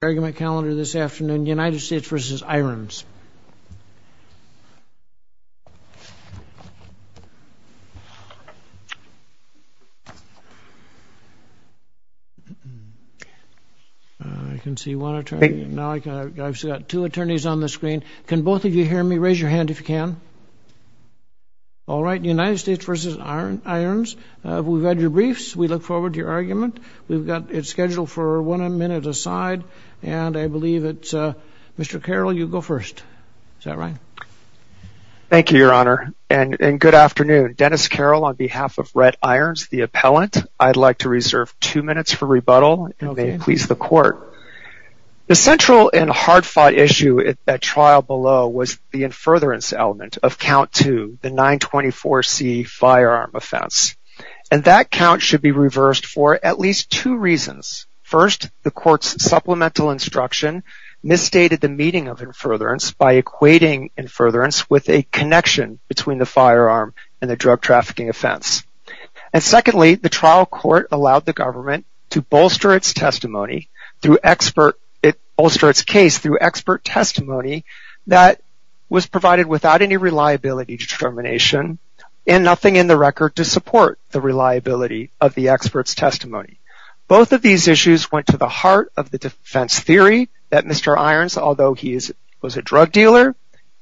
We've got your briefs, we look forward to your argument, we've got it scheduled for one minute aside, and I believe it's Mr. Carroll, you go first. Is that right? Thank you, Your Honor, and good afternoon. Dennis Carroll, on behalf of Rhett Irons, the appellant, I'd like to reserve two minutes for rebuttal, and may it please the court. The central and hard-fought issue at trial below was the infurtherance element of Count 2, the 924C firearm offense. And that count should be reversed for at least two reasons. First, the court's supplemental instruction misstated the meaning of infurtherance by equating infurtherance with a connection between the firearm and the drug trafficking offense. And secondly, the trial court allowed the government to bolster its testimony, to bolster its case through expert testimony that was provided without any reliability determination and nothing in the record to support the reliability of the expert's testimony. Both of these issues went to the heart of the defense theory that Mr. Irons, although he was a drug dealer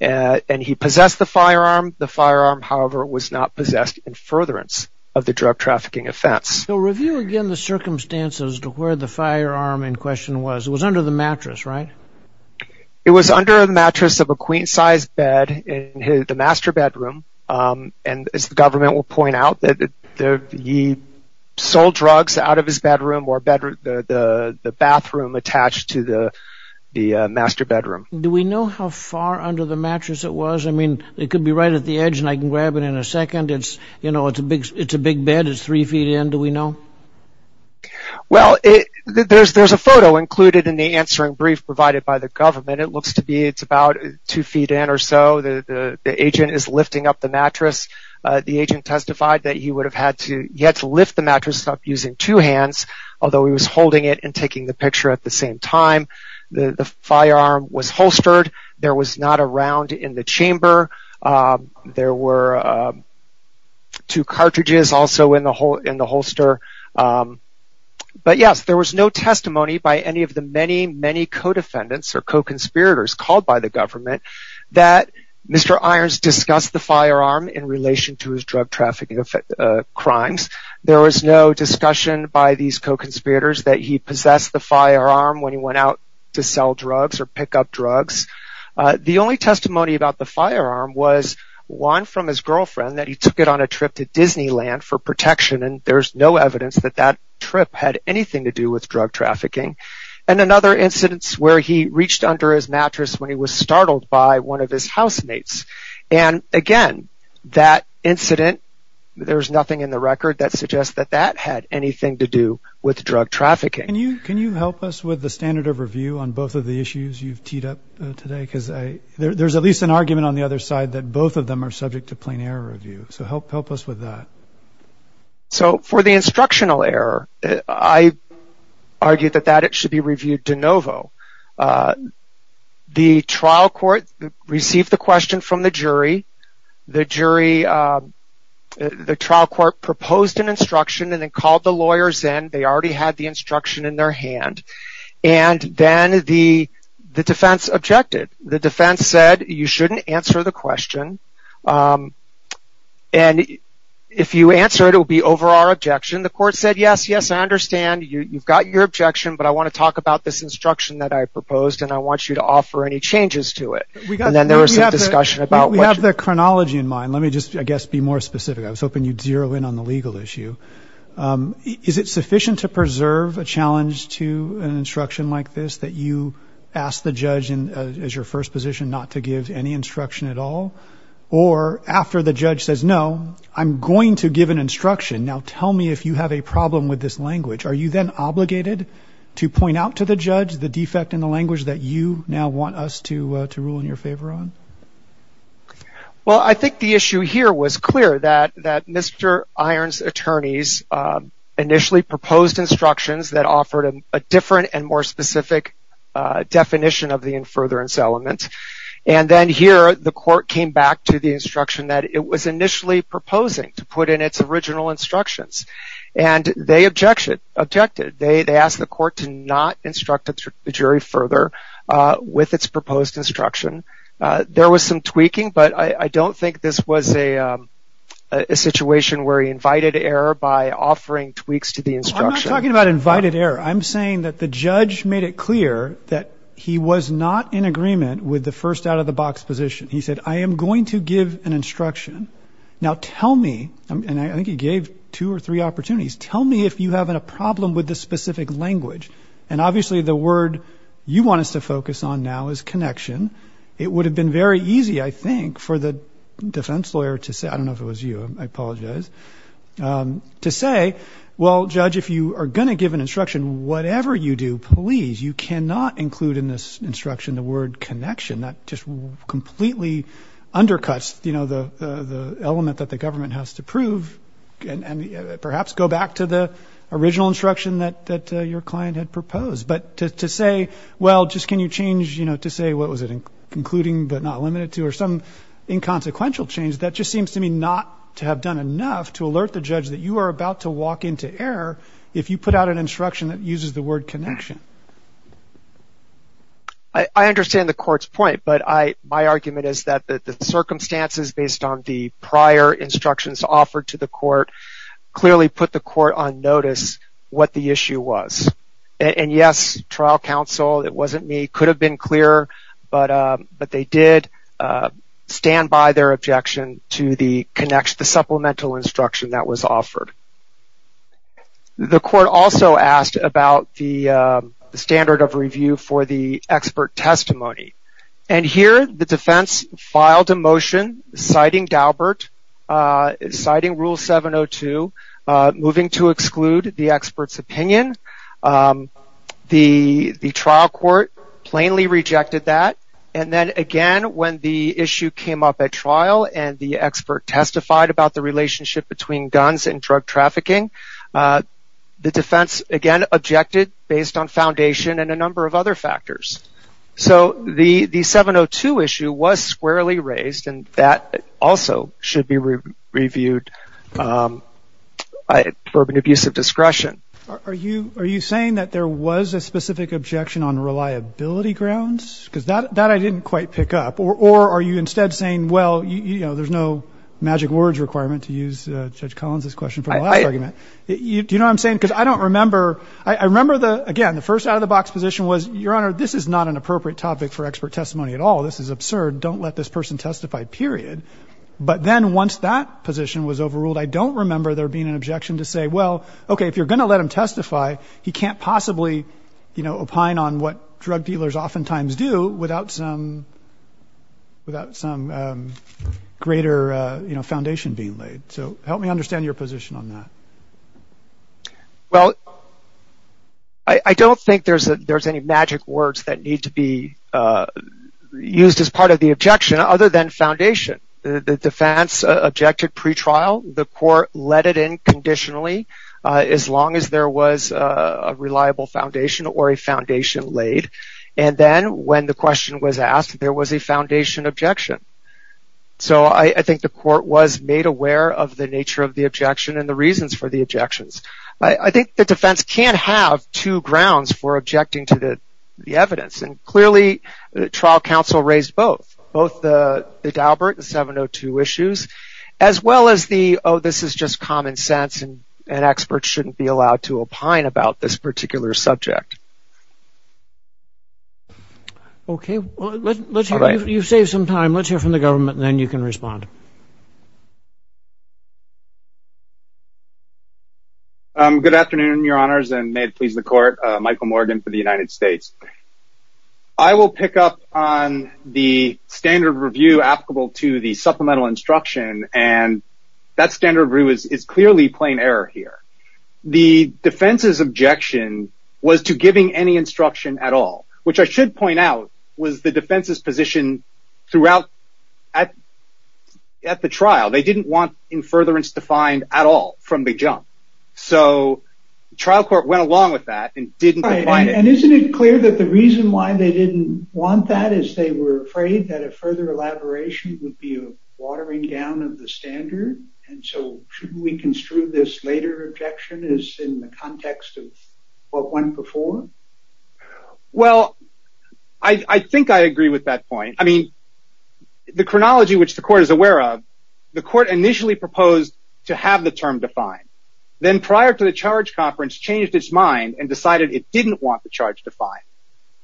and he possessed the firearm, the firearm, however, was not possessed infurtherance of the drug trafficking offense. So review again the circumstances to where the firearm in question was. It was under the mattress, right? It was under the mattress of a queen-size bed in the master bedroom, and as the government will point out, he sold drugs out of his bedroom or the bathroom attached to the master bedroom. Do we know how far under the mattress it was? I mean, it could be right at the edge and I can grab it in a second. It's, you know, it's a big bed. It's three feet in. Do we know? Well, there's a photo included in the answering brief provided by the government. It looks to be it's about two feet in or so. The agent is lifting up the mattress. The agent testified that he would have had to lift the mattress up using two hands, although he was holding it and taking the picture at the same time. The firearm was holstered. There was not a round in the chamber. There were two cartridges also in the holster. But yes, there was no testimony by any of the many, many co-defendants or co-conspirators called by the government that Mr. Irons discussed the firearm in relation to his drug trafficking crimes. There was no discussion by these co-conspirators that he possessed the firearm when he went out to sell drugs or pick up drugs. The only testimony about the firearm was one from his girlfriend that he took it on a trip to Disneyland for protection, and there's no evidence that that trip had anything to do with drug trafficking. And another incident is where he reached under his mattress when he was startled by one of his housemates. And again, that incident, there's nothing in the record that suggests that that had anything to do with drug trafficking. Can you help us with the standard of review on both of the issues you've teed up today? There's at least an argument on the other side that both of them are subject to plain error review, so help us with that. So, for the instructional error, I argue that it should be reviewed de novo. The trial court received the question from the jury. The trial court proposed an instruction and then called the lawyers in. They already had the instruction in their hand. And then the defense objected. The defense said, you shouldn't answer the question. And if you answer it, it will be over our objection. The court said, yes, yes, I understand. You've got your objection, but I want to talk about this instruction that I proposed, and I want you to offer any changes to it. And then there was some discussion about what you... We have the chronology in mind. Let me just, I guess, be more specific. I was hoping you'd zero in on the legal issue. Is it sufficient to preserve a challenge to an instruction like this that you ask the judge as your first position not to give any instruction at all? Or after the judge says, no, I'm going to give an instruction. Now tell me if you have a problem with this language. Are you then obligated to point out to the judge the defect in the language that you now want us to rule in your favor on? Well, I think the issue here was clear that Mr. Iron's attorneys initially proposed instructions that offered a different and more specific definition of the in-furtherance element. And then here, the court came back to the instruction that it was initially proposing to put in its original instructions. And they objected. They asked the court to not instruct the jury further with its proposed instruction. There was some tweaking, but I don't think this was a situation where he invited error by offering tweaks to the instruction. I'm not talking about invited error. I'm saying that the judge made it clear that he was not in agreement with the first out-of-the-box position. He said, I am going to give an instruction. Now tell me, and I think he gave two or three opportunities, tell me if you have a problem with this specific language. And obviously, the word you want us to focus on now is connection. It would have been very easy, I think, for the defense lawyer to say, I don't know if you are going to give an instruction. Whatever you do, please, you cannot include in this instruction the word connection. That just completely undercuts the element that the government has to prove, and perhaps go back to the original instruction that your client had proposed. But to say, well, just can you change, to say, what was it, concluding but not limited to, or some inconsequential change, that just seems to me not to have done enough to alert the judge that you are about to walk into error if you put out an instruction that uses the word connection. I understand the court's point, but my argument is that the circumstances based on the prior instructions offered to the court clearly put the court on notice what the issue was. And yes, trial counsel, it wasn't me, could have been clearer, but they did stand by their objection to the supplemental instruction that was offered. The court also asked about the standard of review for the expert testimony. And here, the defense filed a motion citing Dalbert, citing Rule 702, moving to exclude the expert's opinion. The trial court plainly rejected that. And then again, when the issue came up at trial and the expert testified about the relationship between guns and drug trafficking, the defense, again, objected based on foundation and a number of other factors. So the 702 issue was squarely raised, and that also should be reviewed for an abuse of discretion. Are you saying that there was a specific objection on reliability grounds? Because that I didn't quite pick up. Or are you instead saying, well, you know, there's no magic words requirement to use Judge Collins' question from the last argument. Do you know what I'm saying? Because I don't remember, I remember the, again, the first out-of-the-box position was, Your Honor, this is not an appropriate topic for expert testimony at all. This is absurd. Don't let this person testify, period. But then once that position was overruled, I don't remember there being an objection to say, well, okay, if you're going to let him testify, he can't possibly, you know, do what drug dealers oftentimes do without some greater, you know, foundation being laid. So help me understand your position on that. Well, I don't think there's any magic words that need to be used as part of the objection other than foundation. The defense objected pretrial. The court let it in conditionally as long as there was a reliable foundation or a foundation laid. And then when the question was asked, there was a foundation objection. So I think the court was made aware of the nature of the objection and the reasons for the objections. I think the defense can't have two grounds for objecting to the evidence. And clearly, trial counsel raised both, both the Daubert and 702 issues, as well as the, oh, this is just common sense and experts shouldn't be allowed to opine about this particular subject. Okay. Well, let's hear, you've saved some time. Let's hear from the government and then you can respond. Good afternoon, your honors, and may it please the court. Michael Morgan for the United States. I will pick up on the standard review applicable to the supplemental instruction. And that standard review is clearly plain error here. The defense's objection was to giving any instruction at all, which I should point out was the defense's position throughout at, at the trial. They didn't want in furtherance defined at all from the jump. So trial court went along with that and didn't define it. And isn't it clear that the reason why they didn't want that is they were afraid that further elaboration would be a watering down of the standard. And so shouldn't we construe this later objection is in the context of what went before? Well, I think I agree with that point. I mean, the chronology, which the court is aware of, the court initially proposed to have the term defined. Then prior to the charge conference changed its mind and decided it didn't want the defined.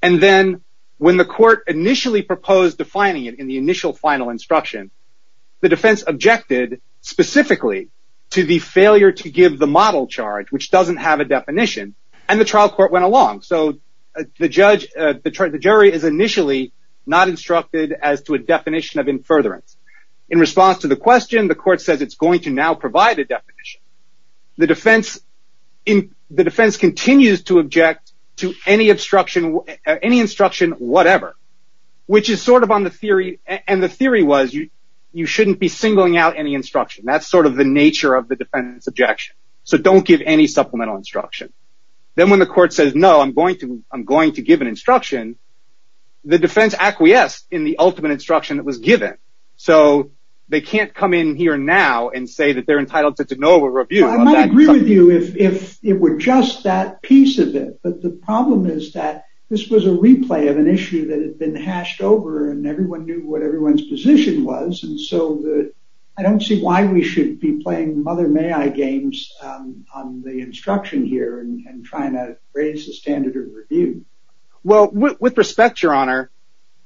And then when the court initially proposed defining it in the initial final instruction, the defense objected specifically to the failure to give the model charge, which doesn't have a definition and the trial court went along. So the judge, the jury is initially not instructed as to a definition of in furtherance. In response to the question, the court says it's going to now provide a definition. The defense in the defense continues to object to any obstruction, any instruction, whatever, which is sort of on the theory. And the theory was you shouldn't be singling out any instruction. That's sort of the nature of the defense objection. So don't give any supplemental instruction. Then when the court says, no, I'm going to, I'm going to give an instruction, the defense acquiesce in the ultimate instruction that was given. So they can't come in here now and say that they're just that piece of it. But the problem is that this was a replay of an issue that had been hashed over and everyone knew what everyone's position was. And so I don't see why we should be playing mother may I games on the instruction here and trying to raise the standard of review. Well, with respect, your honor,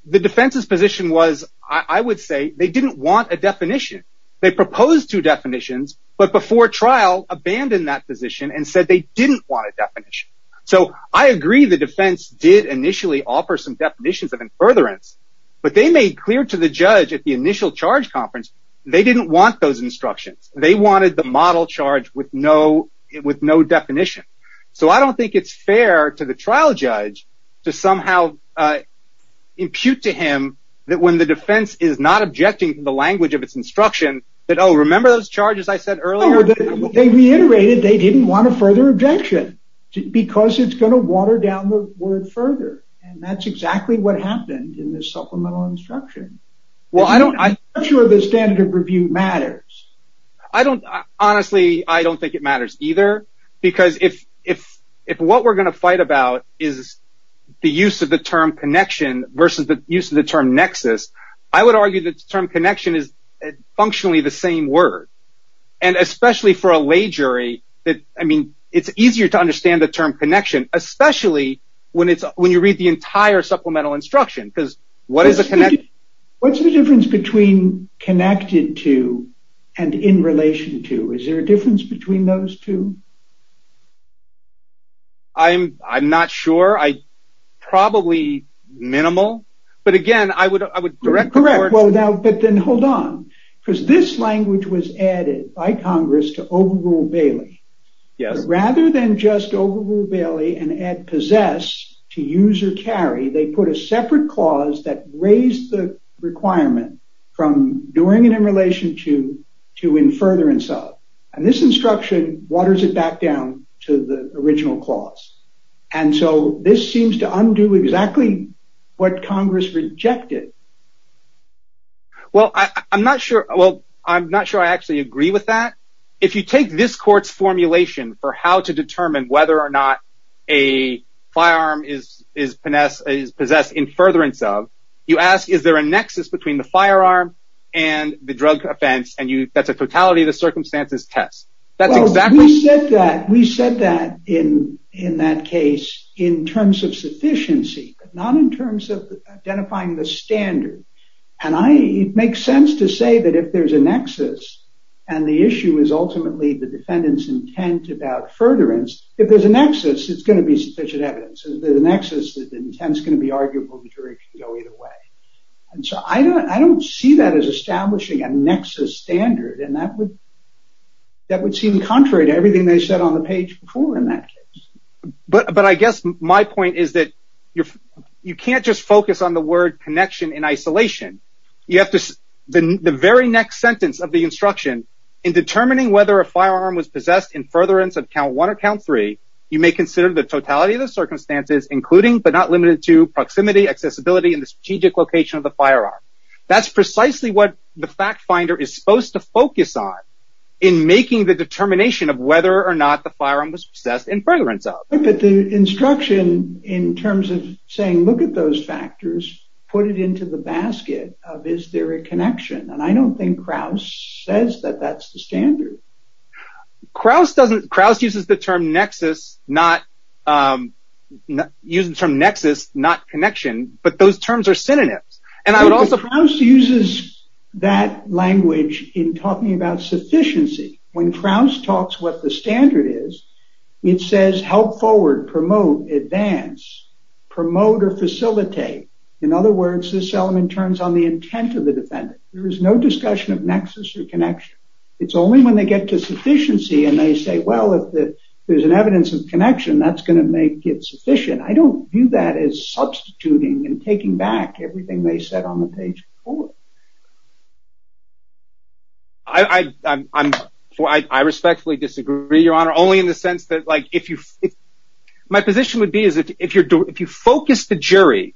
the defense's position was, I would say they didn't want a definition. They proposed two definitions, but before trial abandoned that position and they didn't want a definition. So I agree. The defense did initially offer some definitions of in furtherance, but they made clear to the judge at the initial charge conference, they didn't want those instructions. They wanted the model charge with no, with no definition. So I don't think it's fair to the trial judge to somehow impute to him that when the defense is not objecting to the language of its instruction that, remember those charges I said earlier, they reiterated, they didn't want a further objection because it's going to water down the word further. And that's exactly what happened in this supplemental instruction. Well, I don't, I'm sure the standard of review matters. I don't, honestly, I don't think it matters either because if, if, if what we're going to fight about is the use of the term connection versus the use of the term nexus, I would argue that term connection is functionally the same word. And especially for a lay jury that, I mean, it's easier to understand the term connection, especially when it's, when you read the entire supplemental instruction, because what is the connection? What's the difference between connected to and in relation to, is there a difference between those two? I'm, I'm not sure. I, probably minimal, but again, I would, I would direct the court. Correct. Well, now, but then hold on because this language was added by Congress to overrule Bailey. Yes. Rather than just overrule Bailey and add possess to use or carry, they put a separate clause that raised the requirement from doing it in relation to, to in furtherance of. And this instruction waters it back down to the original clause. And so this seems to undo exactly what Congress rejected. Well, I, I'm not sure. Well, I'm not sure I actually agree with that. If you take this court's formulation for how to determine whether or not a firearm is, is possess, is possessed in furtherance of, you ask, is there a nexus between the firearm and the drug offense? And you, that's the totality of the circumstances test. That's exactly. We said that, we said that in, in that case, in terms of sufficiency, but not in terms of identifying the standard. And I, it makes sense to say that if there's a nexus and the issue is ultimately the defendant's intent about furtherance, if there's a nexus, it's going to be sufficient evidence. If there's a nexus, the intent's going to be arguable, the jury can go either way. And so I don't, I don't see that as establishing a nexus standard and that would, that would seem contrary to everything they said on the page before in that case. But, but I guess my point is that you're, you can't just focus on the word connection in isolation. You have to, the, the very next sentence of the instruction in determining whether a firearm was possessed in furtherance of count one or count three, you may consider the totality of the circumstances, including, but not limited to proximity, accessibility, and the strategic location of the firearm. That's precisely what the fact finder is supposed to focus on in making the determination of whether or not the firearm was possessed in furtherance of. But the instruction in terms of saying, look at those factors, put it into the basket of, is there a connection? And I don't think Krauss says that that's the standard. Krauss doesn't, Krauss uses the term nexus, not, not use the term nexus, not connection, but those terms are synonyms. And I would also- Krauss uses that language in talking about sufficiency. When Krauss talks what the standard is, it says help forward, promote, advance, promote, or facilitate. In other words, this element turns on the intent of the defendant. There is no discussion of nexus or connection. It's only when they get to sufficiency and they say, well, if there's an evidence of connection, that's going to make it sufficient. I don't view that as substituting and taking back everything they said on the page before. I, I, I'm, I respectfully disagree, Your Honor, only in the sense that like, if you, if my position would be is that if you're, if you focus the jury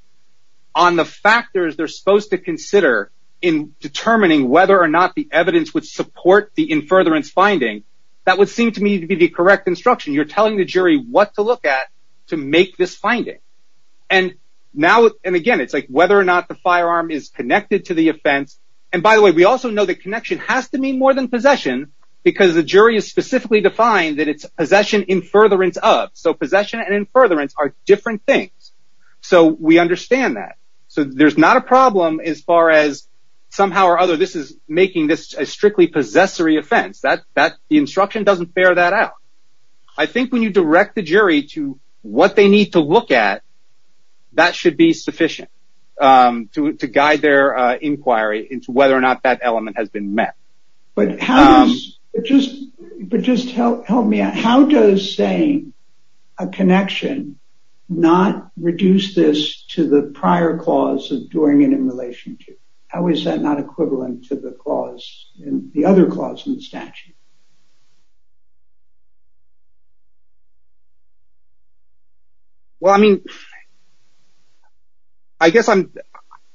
on the factors they're supposed to consider in determining whether or not the evidence would support the in furtherance finding, that would seem to me to be correct instruction. You're telling the jury what to look at to make this finding. And now, and again, it's like whether or not the firearm is connected to the offense. And by the way, we also know that connection has to mean more than possession because the jury is specifically defined that it's possession in furtherance of. So possession and in furtherance are different things. So we understand that. So there's not a problem as far as somehow or other, this is I think when you direct the jury to what they need to look at, that should be sufficient to guide their inquiry into whether or not that element has been met. But how does it just, but just help, help me out. How does saying a connection, not reduce this to the prior clause of doing it in relation to, how is that not equivalent to the clause in the other clause in the statute? Well, I mean, I guess I'm,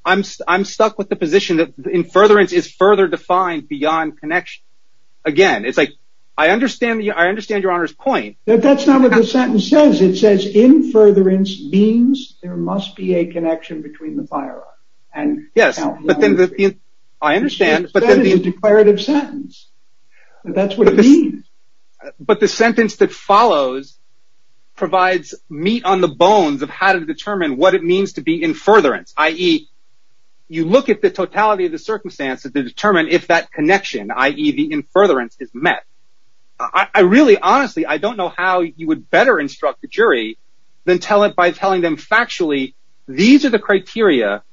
I'm, I'm stuck with the position that in furtherance is further defined beyond connection. Again, it's like, I understand that. I understand your honor's point. That that's not what the sentence says. It says in furtherance means there must be a connection between the firearm and yes. But then I understand, but then the declarative sentence, that's what it means. But the sentence that follows provides meat on the bones of how to determine what it means to be in furtherance, i.e. you look at the totality of the circumstances to determine if that connection, i.e. the in furtherance is met. I really, honestly, I don't know how you would better instruct the jury than tell it by telling them factually, these are the how to better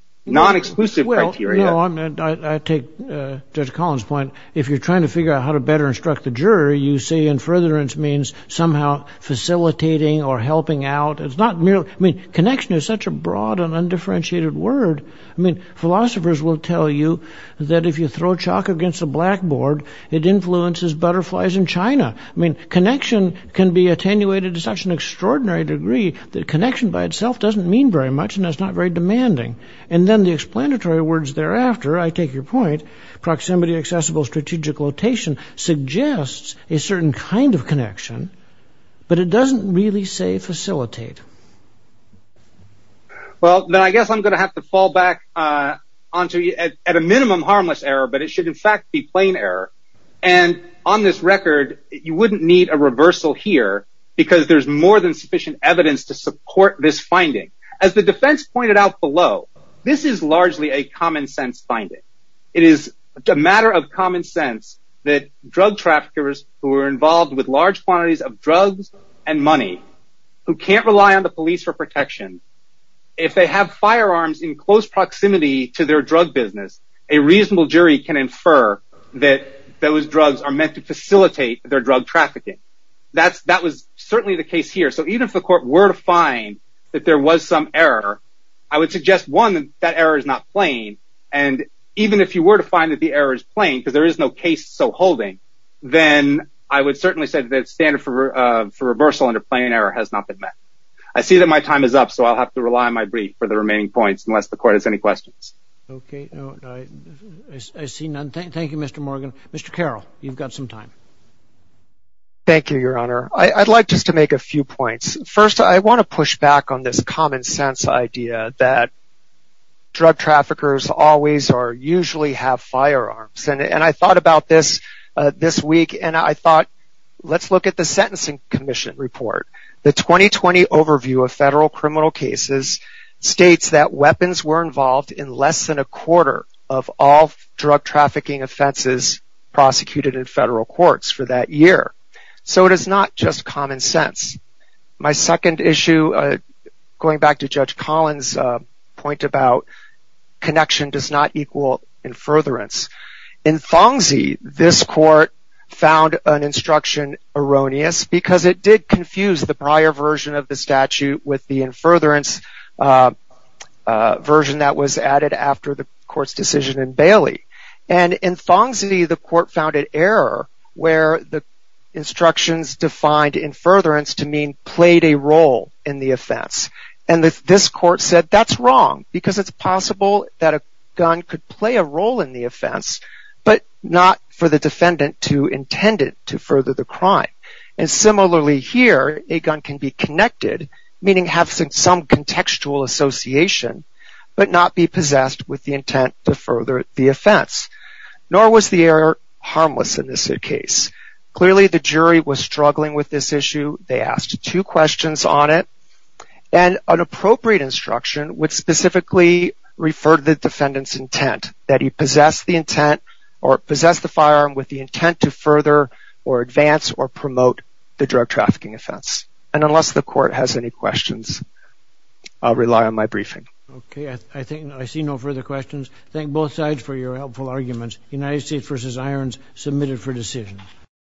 instruct the jury. You say in furtherance means somehow facilitating or helping out. It's not merely, I mean, connection is such a broad and undifferentiated word. I mean, philosophers will tell you that if you throw chalk against the blackboard, it influences butterflies in China. I mean, connection can be attenuated to such an extraordinary degree that connection by itself doesn't mean very much, and that's not very demanding. And then the explanatory words thereafter, I take your point, proximity, accessible, strategic rotation suggests a certain kind of connection, but it doesn't really say facilitate. Well, then I guess I'm going to have to fall back onto at a minimum harmless error, but it should in fact be plain error. And on this record, you wouldn't need a reversal here, because there's more than sufficient evidence to support this finding. As the defense pointed out This is largely a common sense finding. It is a matter of common sense that drug traffickers who are involved with large quantities of drugs and money, who can't rely on the police for protection, if they have firearms in close proximity to their drug business, a reasonable jury can infer that those drugs are meant to facilitate their drug trafficking. That's that was certainly the case here. So even if the court were to find that there was some error, I would suggest one that error is not plain. And even if you were to find that the error is plain, because there is no case so holding, then I would certainly say that standard for reversal under plain error has not been met. I see that my time is up. So I'll have to rely on my brief for the remaining points unless the court has any questions. Okay. I see none. Thank you, Mr. Morgan. Mr. Carroll, you've got some time. Thank you, Your Honor. I'd like just to make a few points. First of all, I think it's a common sense idea that drug traffickers always are usually have firearms. And I thought about this this week, and I thought, let's look at the Sentencing Commission report. The 2020 overview of federal criminal cases states that weapons were involved in less than a quarter of all drug trafficking offenses prosecuted in federal courts for that year. So it is not just common sense. My second issue, going back to Judge Collins' point about connection does not equal in furtherance. In Fongsi, this court found an instruction erroneous because it did confuse the prior version of the statute with the in furtherance version that was added after the court's decision in Bailey. And in Fongsi, the court found an error where the instructions defined in furtherance to mean played a role in the offense. And this court said that's wrong because it's possible that a gun could play a role in the offense, but not for the defendant to intend it to further the crime. And similarly here, a gun can be connected, meaning have some contextual association, but not be possessed with the intent to further the offense. Nor was the error harmless in this case. Clearly, the jury was struggling with this issue. They asked two questions on it. And an appropriate instruction would specifically refer to the defendant's intent, that he possessed the intent or possessed the firearm with the intent to further or advance or promote the drug trafficking offense. And unless the court has any questions, I'll rely on my briefing. Okay, I think I see no further questions. Thank both sides for your helpful arguments. United States v. Irons, submitted for decision.